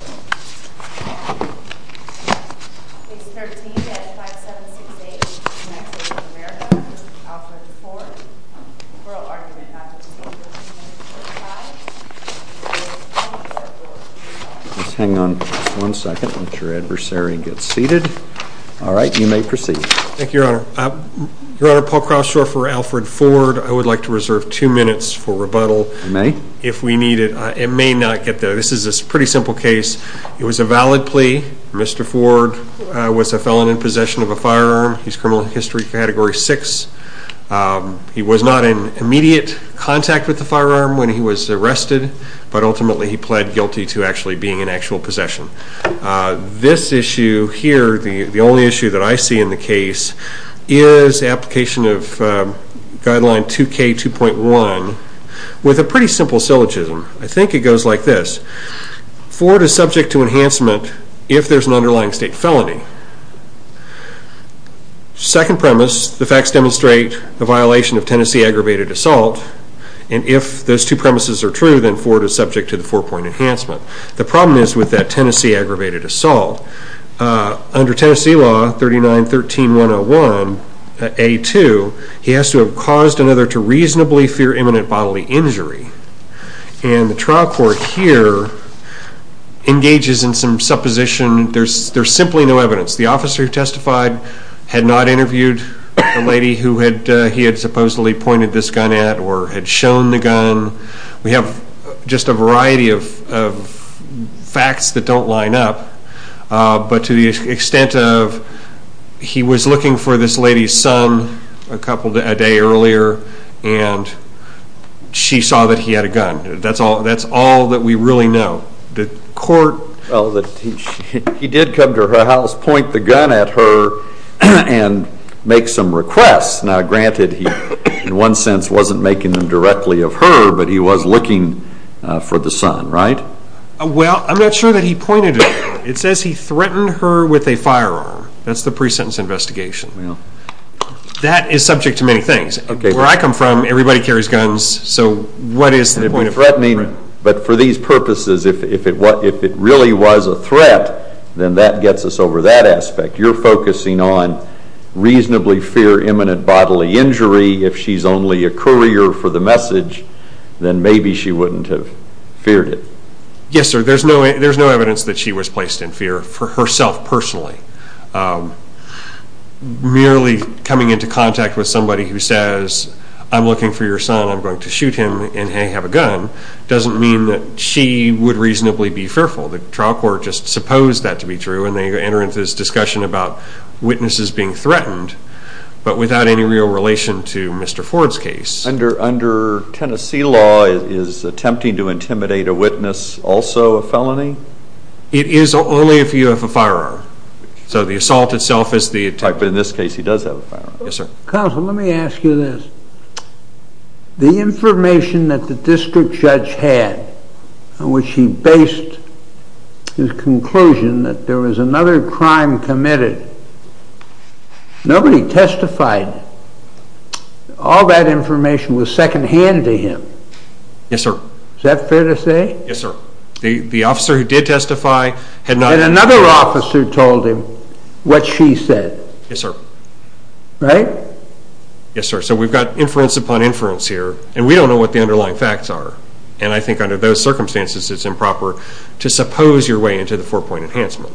I would like to reserve two minutes for rebuttal if we need it. It may not get there. This is a pretty simple case. It was a valid plea. Mr. Ford was a felon in possession of a firearm. He's criminal history category 6. He was not in immediate contact with the firearm when he was arrested, but ultimately he pled guilty to actually being in actual possession. This issue here, the only issue that I see in the case is application of guideline 2K2.1 with a pretty simple syllogism. I think it goes like this. Ford is subject to enhancement if there's an underlying state felony. Second premise, the facts demonstrate the violation of Tennessee aggravated assault, and if those two premises are true, then Ford is subject to the four-point enhancement. The problem is with that Tennessee aggravated assault, under Tennessee law 3913101A2, he has to have caused another to reasonably fear imminent bodily injury, and the trial court here engages in some supposition. There's simply no evidence. The officer who testified had not interviewed the lady who he had supposedly pointed this gun at or had shown the gun. We have just a variety of facts that don't line up, but to the extent of he was looking for this lady's son a day earlier, and she saw that he had a gun. That's all that we really know. The court, he did come to her house, point the gun at her, and make some requests. Now granted he in one sense wasn't making them directly of her, but he was looking for the son, right? Well, I'm not sure that he pointed it at her. It says he threatened her with a firearm. That's the pre-sentence investigation. That is subject to many things. Where I come from, everybody carries guns, so what is the point of threatening? But for these purposes, if it really was a threat, then that gets us over that aspect. You're focusing on reasonably fear imminent bodily injury. If she's only a courier for the message, then maybe she wouldn't have feared it. Yes, sir. There's no evidence that she was placed in fear for herself personally. Merely coming into contact with somebody who says, I'm looking for your son. I'm going to shoot him and have a gun, doesn't mean that she would reasonably be fearful. The trial court just supposed that to be true, and they enter into this discussion about witnesses being threatened, but without any real relation to Mr. Ford's case. Under Tennessee law, is attempting to intimidate a witness also a felony? It is only if you have a firearm. So the assault itself is the attack. But in this case, he does have a firearm. Yes, sir. Counsel, let me ask you this. The information that the district judge had, in which he based his conclusion that there was another crime committed, nobody testified. All that information was second hand to him. Yes, sir. Is that fair to say? Yes, sir. The officer who did testify had not And another officer told him what she said. Yes, sir. Right? Yes, sir. So we've got inference upon inference here, and we don't know what the underlying facts are, and I think under those circumstances it's improper to suppose your way into the four-point enhancement.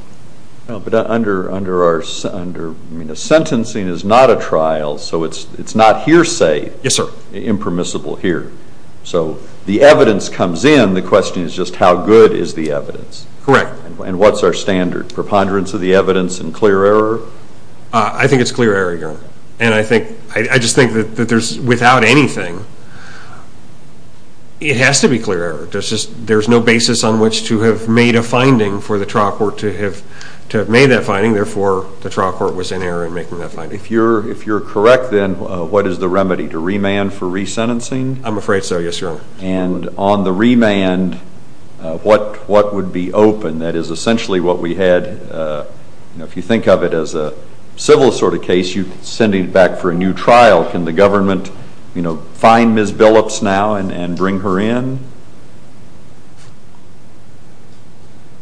Under our, I mean, a sentencing is not a trial, so it's not hearsay. Yes, sir. Impermissible here. So the evidence comes in, the question is just how good is the evidence? Correct. And what's our standard? Preponderance of the evidence and clear error? I think it's clear error, your honor. And I think, I just think that there's, without anything, it has to be clear error. There's no basis on which to have made a finding for the trial court to have made that finding, therefore the trial court was in error in making that finding. If you're correct then, what is the remedy? To remand for resentencing? I'm afraid so, yes, your honor. And on the remand, what would be open? That is essentially what we had, if you think of it as a civil sort of case, you're sending it back for a new trial, can the government, you know, find Ms. Billups now and bring her in?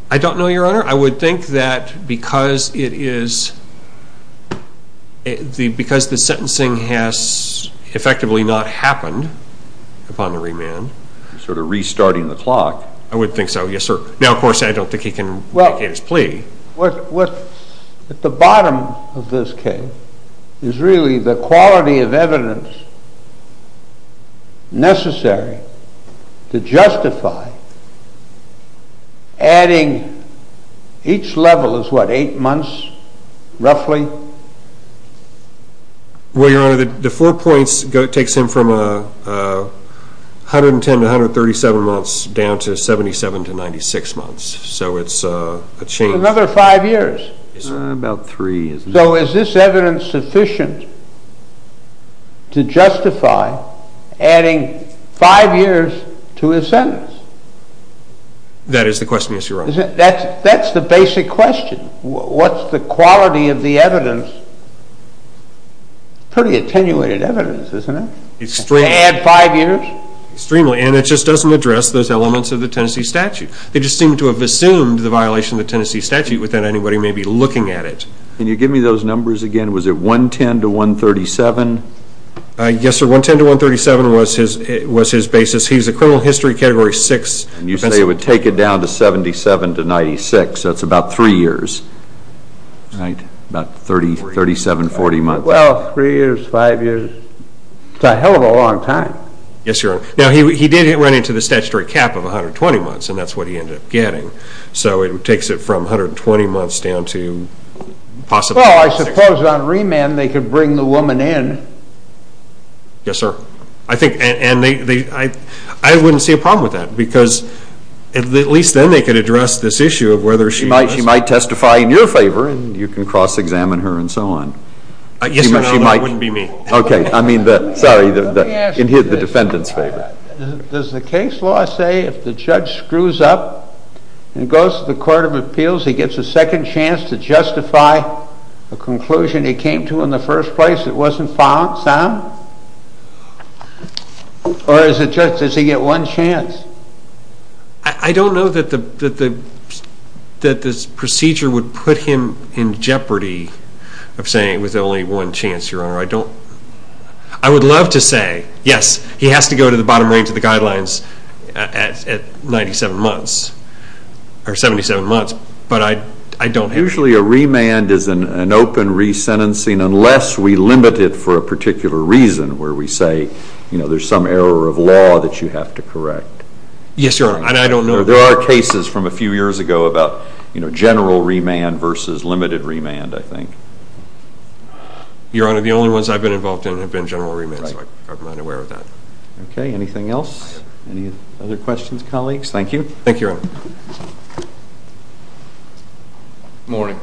I don't know, your honor. I would think that because it is, because the sentencing has effectively not happened upon the remand. You're sort of restarting the clock. I would think so, yes, sir. Now, of course, I don't think he can vacate his plea. What, at the bottom of this case, is really the quality of evidence necessary to justify adding, each level is what, 8 months, roughly? Well, your honor, the four points takes him from 110 to 137 months down to 77 to 96 months, so it's a change. To another 5 years? About 3, yes. So is this evidence sufficient to justify adding 5 years to his sentence? That is the question, yes, your honor. That's the basic question. What's the quality of the evidence? Pretty attenuated evidence, isn't it? Extreme. To add 5 years? Extremely, and it just doesn't address those elements of the Tennessee statute. They just seem to have assumed the violation of the Tennessee statute without anybody maybe looking at it. Can you give me those numbers again? Was it 110 to 137? Yes, sir, 110 to 137 was his basis. He's a criminal history category 6. And you say it would take it down to 77 to 96, so it's about 3 years, right? About 37, 40 months. Well, 3 years, 5 years, it's a hell of a long time. Yes, your honor. Now, he did run into the statutory cap of 120 months, and that's what he ended up getting. So it takes it from 120 months down to possibly 96. Well, I suppose on remand they could bring the woman in. Yes, sir. I think, and they, I wouldn't see a problem with that, because at least then they could address this issue of whether she might testify in your favor, and you can cross-examine her and so on. Yes, your honor, that wouldn't be me. Okay, I mean, sorry, in the defendant's favor. Does the case law say if the judge screws up and goes to the court of appeals, he gets a second chance to justify a conclusion he came to in the first place that wasn't found, Sam? Or does the judge, does he get one chance? I don't know that the procedure would put him in jeopardy of saying with only one chance, your honor. I don't, I would love to say, yes, he has to go to the bottom range of the guidelines at 97 months, or 77 months, but I don't have Usually a remand is an open resentencing unless we limit it for a particular reason where we say, you know, there's some error of law that you have to correct. Yes, your honor, and I don't know. There are cases from a few years ago about, you know, general remand versus limited remand, I think. Your honor, the only ones I've been involved in have been general remand, so I'm not aware of that. Okay, anything else? Any other questions, colleagues? Thank you. Thank you, your honor. Good morning.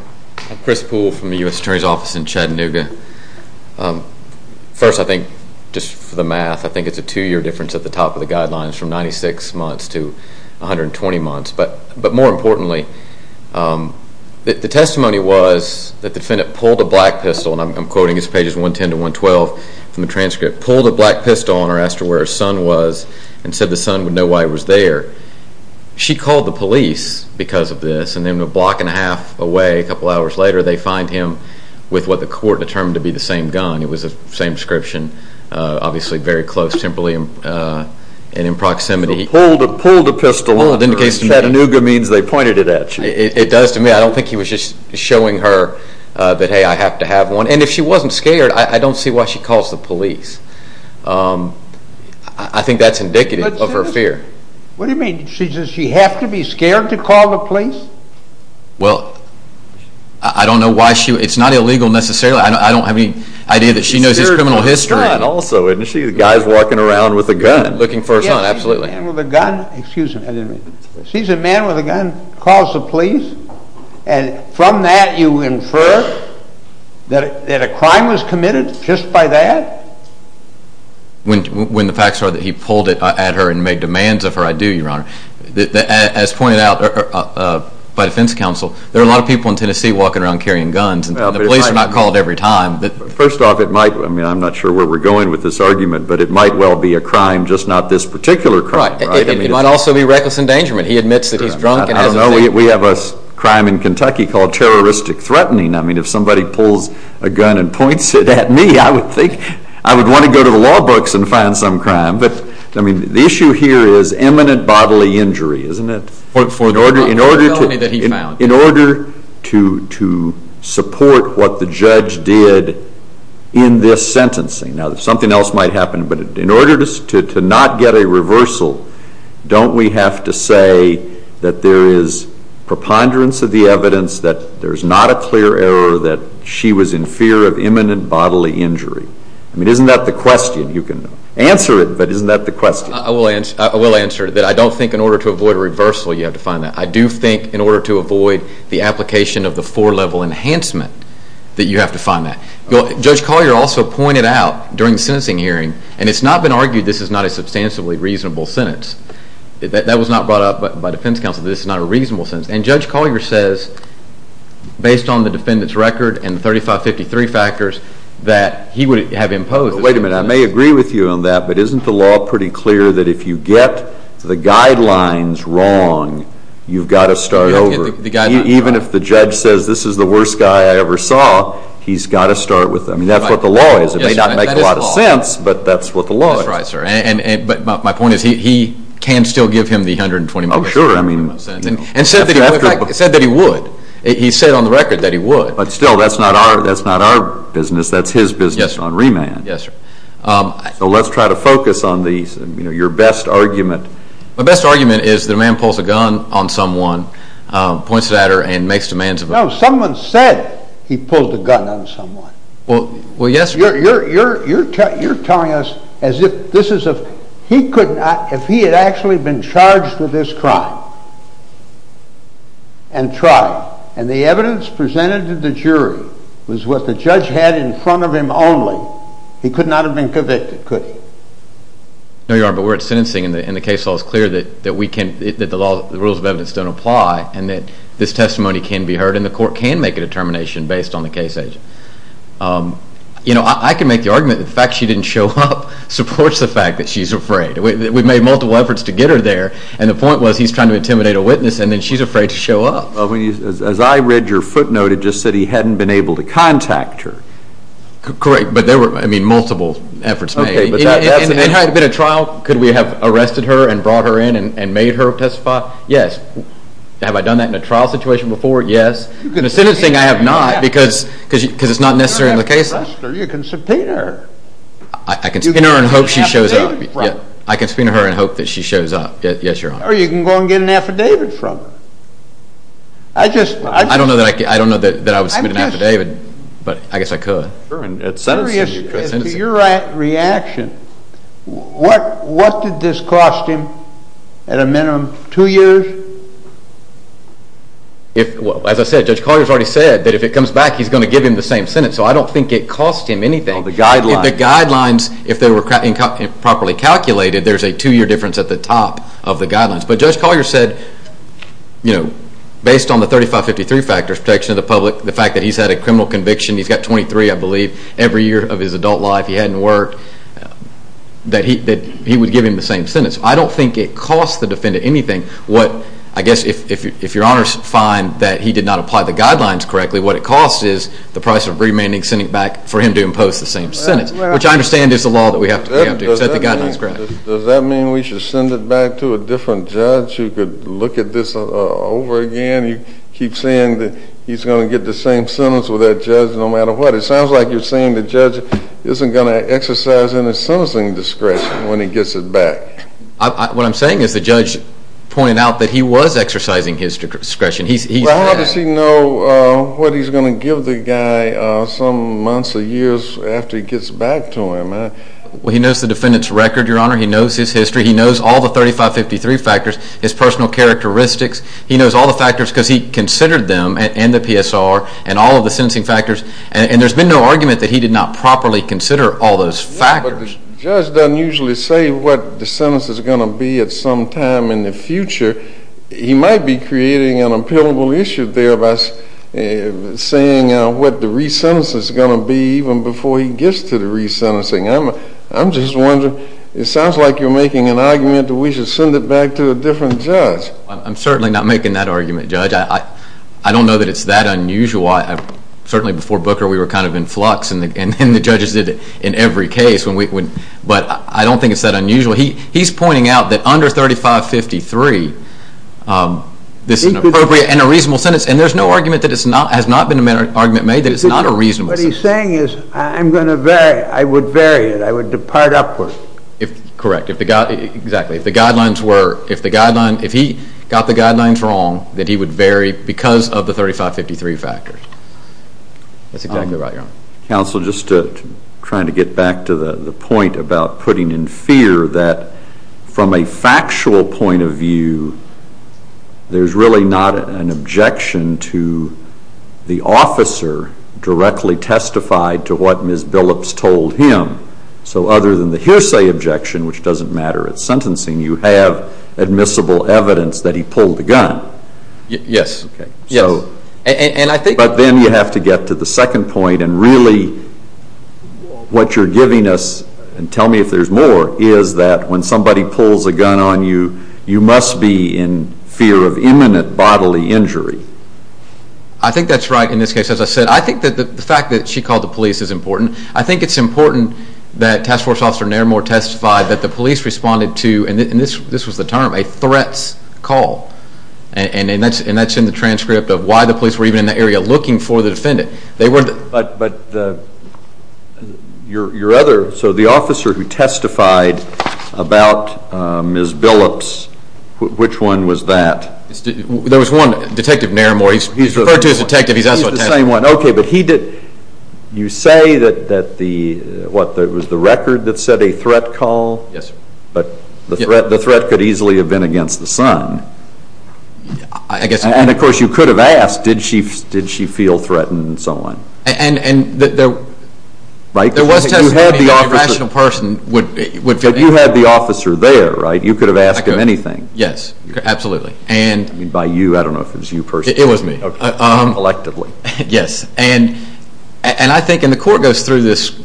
I'm Chris Poole from the U.S. Attorney's Office in Chattanooga. First, I think, just for the math, I think it's a two-year difference at the top of the guidelines from 96 months to 120 months, but more importantly, the testimony was that the defendant pulled a black pistol, and I'm quoting, it's pages 110 to 112 from the transcript, pulled a black pistol on her, asked her where her son was, and said the son would know why he was there. She called the police because of this, and then a block and a half away, a couple hours later, they find him with what the court determined to be the same gun. It was the same inscription, obviously very close, temporarily, and in proximity. Pulled a pistol on her. Chattanooga means they pointed it at you. It does to me. I don't think he was just showing her that, hey, I have to have one, and if she wasn't scared, I don't see why she calls the police. I think that's indicative of her fear. What do you mean? She says she has to be scared to call the police? Well, I don't know why she would. It's not illegal necessarily. I don't have any idea that she knows his criminal history. She's scared of her son also, isn't she? The guy's walking around with a gun. Looking for her son, absolutely. She's a man with a gun. Excuse me. She's a man with a gun, calls the police, and from that you infer that a crime was committed just by that? When the facts are that he pulled it at her and made demands of her, I do, Your Honor. As pointed out by defense counsel, there are a lot of people in Tennessee walking around carrying guns, and the police are not called every time. First off, I'm not sure where we're going with this argument, but it might well be a crime, just not this particular crime, right? It might also be reckless endangerment. He admits that he's drunk and has a gun. I don't know. We have a crime in Kentucky called terroristic threatening. If somebody pulls a gun and points it at me, I would want to go to the law books and find some crime. But the issue here is imminent bodily injury, isn't it, in order to support what the judge did in this sentencing. Now, something else might happen, but in order to not get a reversal, don't we have to say that there is preponderance of the evidence, that there's not a clear error, that she was in fear of imminent bodily injury? I mean, isn't that the question? You can answer it, but isn't that the question? I will answer it, that I don't think in order to avoid a reversal you have to find that. I do think in order to avoid the application of the four-level enhancement that you have to find that. Judge Collier also pointed out during the sentencing hearing, and it's not been argued this is not a substantially reasonable sentence. That was not brought up by defense counsel that this is not a reasonable sentence. And Judge Collier says, based on the defendant's record and the 3553 factors, that he would have imposed. Wait a minute. I may agree with you on that, but isn't the law pretty clear that if you get the guidelines wrong, you've got to start over? You have to get the guidelines wrong. If the defendant says, this is the worst guy I ever saw, he's got to start with them. That's what the law is. It may not make a lot of sense, but that's what the law is. That's right, sir. But my point is he can still give him the 120 million dollars. Oh, sure. And said that he would. He said on the record that he would. But still, that's not our business. That's his business on remand. Yes, sir. So let's try to focus on your best argument. My best argument is the man pulls a gun on someone, points it at her, and makes demands of her. No, someone said he pulled a gun on someone. Well, yes, sir. You're telling us as if he had actually been charged with this crime and tried. And the evidence presented to the jury was what the judge had in front of him only. He could not have been convicted, could he? No, Your Honor, but we're at sentencing and the case law is clear that the rules of evidence don't apply and that this testimony can be heard and the court can make a determination based on the case agent. You know, I can make the argument that the fact she didn't show up supports the fact that she's afraid. We've made multiple efforts to get her there and the point was he's trying to intimidate a witness and then she's afraid to show up. As I read your footnote, it just said he hadn't been able to contact her. Correct, but there were, I mean, multiple efforts made. If it had been a trial, could we have arrested her and brought her in and made her testify? Yes. Have I done that in a trial situation before? Yes. In a sentencing, I have not because it's not necessarily in the case law. You can subpoena her. I can subpoena her and hope she shows up. You can get an affidavit from her. I can subpoena her and hope that she shows up. Yes, Your Honor. Or you can go and get an affidavit from her. I don't know that I would submit an affidavit, but I guess I could. To your reaction, what did this cost him at a minimum, two years? As I said, Judge Collier has already said that if it comes back, he's going to give him the same sentence, so I don't think it cost him anything. The guidelines. The guidelines, if they were properly calculated, there's a two-year difference at the top of the guidelines, but Judge Collier said, you know, based on the 3553 factors, protection of the public, the fact that he's had a criminal conviction. He's got 23, I believe. Every year of his adult life, he hadn't worked, that he would give him the same sentence. I don't think it cost the defendant anything. I guess if Your Honor finds that he did not apply the guidelines correctly, what it cost is the price of remanding, sending back for him to impose the same sentence, which I understand is the law that we have to accept the guidelines correctly. Does that mean we should send it back to a different judge who could look at this over again? You keep saying that he's going to get the same sentence with that judge no matter what. It sounds like you're saying the judge isn't going to exercise any sentencing discretion when he gets it back. What I'm saying is the judge pointed out that he was exercising his discretion. Well, how does he know what he's going to give the guy some months or years after he gets back to him? Well, he knows the defendant's record, Your Honor. He knows his history. He knows all the 3553 factors, his personal characteristics. He knows all the factors because he considered them and the PSR and all of the sentencing factors, and there's been no argument that he did not properly consider all those factors. Yeah, but the judge doesn't usually say what the sentence is going to be at some time in the future. He might be creating an appealable issue there by saying what the re-sentence is going to be even before he gets to the re-sentencing. I'm just wondering. It sounds like you're making an argument that we should send it back to a different judge. I'm certainly not making that argument, Judge. I don't know that it's that unusual. Certainly before Booker we were kind of in flux, and the judges did it in every case, but I don't think it's that unusual. He's pointing out that under 3553 this is an appropriate and a reasonable sentence, and there's no argument that it has not been an argument made that it's not a reasonable sentence. What he's saying is I'm going to vary it. I would vary it. I would depart upward. Correct. Exactly. If he got the guidelines wrong, then he would vary because of the 3553 factors. That's exactly right, Your Honor. Counsel, just trying to get back to the point about putting in fear that from a factual point of view there's really not an objection to the officer directly testified to what Ms. Billups told him. So other than the hearsay objection, which doesn't matter at sentencing, you have admissible evidence that he pulled the gun. Yes. Okay. Yes. But then you have to get to the second point, and really what you're giving us, and tell me if there's more, is that when somebody pulls a gun on you, you must be in fear of imminent bodily injury. I think that's right in this case. As I said, I think that the fact that she called the police is important. I think it's important that Task Force Officer Nairmore testified that the police responded to, and this was the term, a threats call, and that's in the transcript of why the police were even in the area looking for the defendant. But your other, so the officer who testified about Ms. Billups, which one was that? There was one, Detective Nairmore. He's referred to as Detective. He's also a test. He's the same one. Okay, but he did, you say that the, what, it was the record that said a threat call? Yes. But the threat could easily have been against the son. I guess. And, of course, you could have asked, did she feel threatened and so on. And there was testimony that a rational person would feel anything. But you had the officer there, right? You could have asked him anything. Yes, absolutely. By you, I don't know if it was you personally. It was me. Collectively. Yes, and I think, and the court goes through this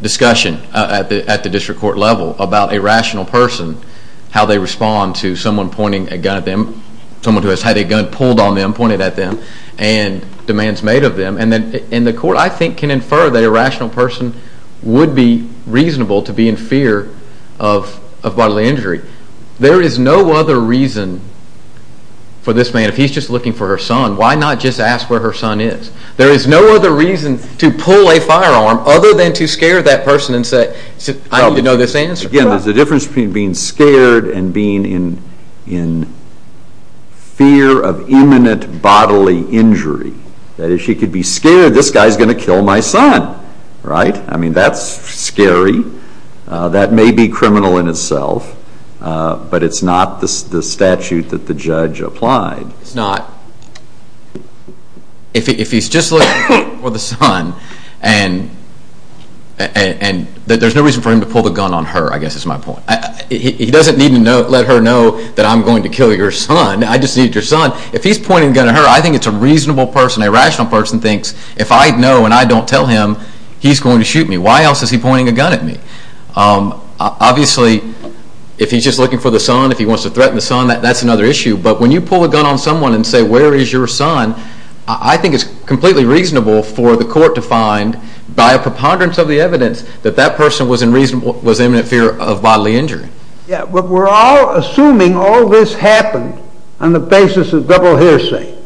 discussion at the district court level about a rational person, how they respond to someone pointing a gun at them, someone who has had a gun pulled on them, pointed at them, and demands made of them. And the court, I think, can infer that a rational person would be reasonable to be in fear of bodily injury. There is no other reason for this man, if he's just looking for her son, why not just ask where her son is? There is no other reason to pull a firearm other than to scare that person and say, I need to know this answer. Again, there's a difference between being scared and being in fear of imminent bodily injury. That is, she could be scared, this guy is going to kill my son, right? I mean, that's scary. That may be criminal in itself, but it's not the statute that the judge applied. It's not. If he's just looking for the son, and there's no reason for him to pull the gun on her, I guess is my point. He doesn't need to let her know that I'm going to kill your son. I just need your son. If he's pointing a gun at her, I think it's a reasonable person, a rational person thinks, if I know and I don't tell him, he's going to shoot me. Why else is he pointing a gun at me? Obviously, if he's just looking for the son, if he wants to threaten the son, that's another issue. But when you pull a gun on someone and say, where is your son? I think it's completely reasonable for the court to find, by a preponderance of the evidence, that that person was in imminent fear of bodily injury. Yeah, but we're all assuming all this happened on the basis of double hearsay.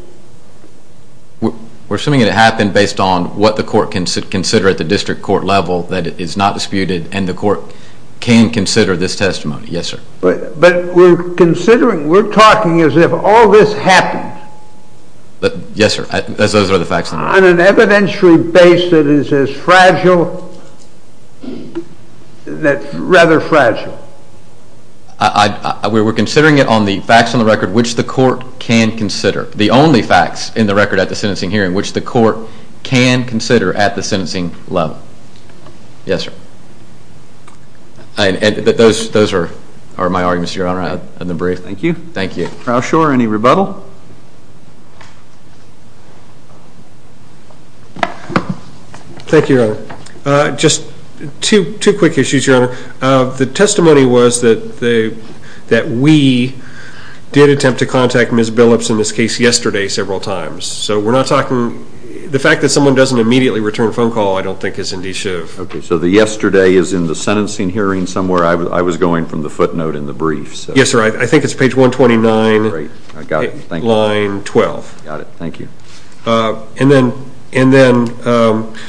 We're assuming it happened based on what the court can consider at the district court level that is not disputed, and the court can consider this testimony. Yes, sir. But we're considering, we're talking as if all this happened. Yes, sir. As those are the facts. On an evidentiary basis as fragile, rather fragile. We're considering it on the facts on the record which the court can consider. The only facts in the record at the sentencing hearing which the court can consider at the sentencing level. Yes, sir. And those are my arguments, Your Honor, in the brief. Thank you. Thank you. Roushore, any rebuttal? Thank you, Your Honor. Just two quick issues, Your Honor. The testimony was that we did attempt to contact Ms. Billups in this case yesterday several times. So we're not talking, the fact that someone doesn't immediately return a phone call I don't think is indicative. Okay. So the yesterday is in the sentencing hearing somewhere. I was going from the footnote in the brief. Yes, sir. I think it's page 129. Great. I got it. Thank you. Line 12. Got it. Thank you. And then,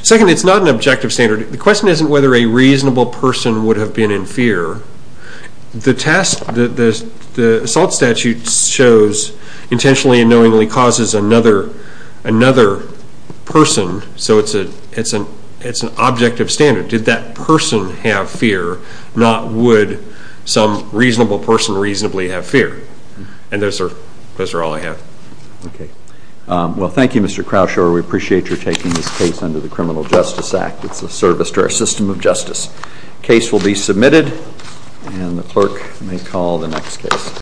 second, it's not an objective standard. The question isn't whether a reasonable person would have been in fear. The assault statute shows intentionally and knowingly causes another person. So it's an objective standard. Did that person have fear? Not would some reasonable person reasonably have fear? And those are all I have. Okay. Well, thank you, Mr. Crouchore. We appreciate your taking this case under the Criminal Justice Act. It's a service to our system of justice. The case will be submitted, and the clerk may call the next case.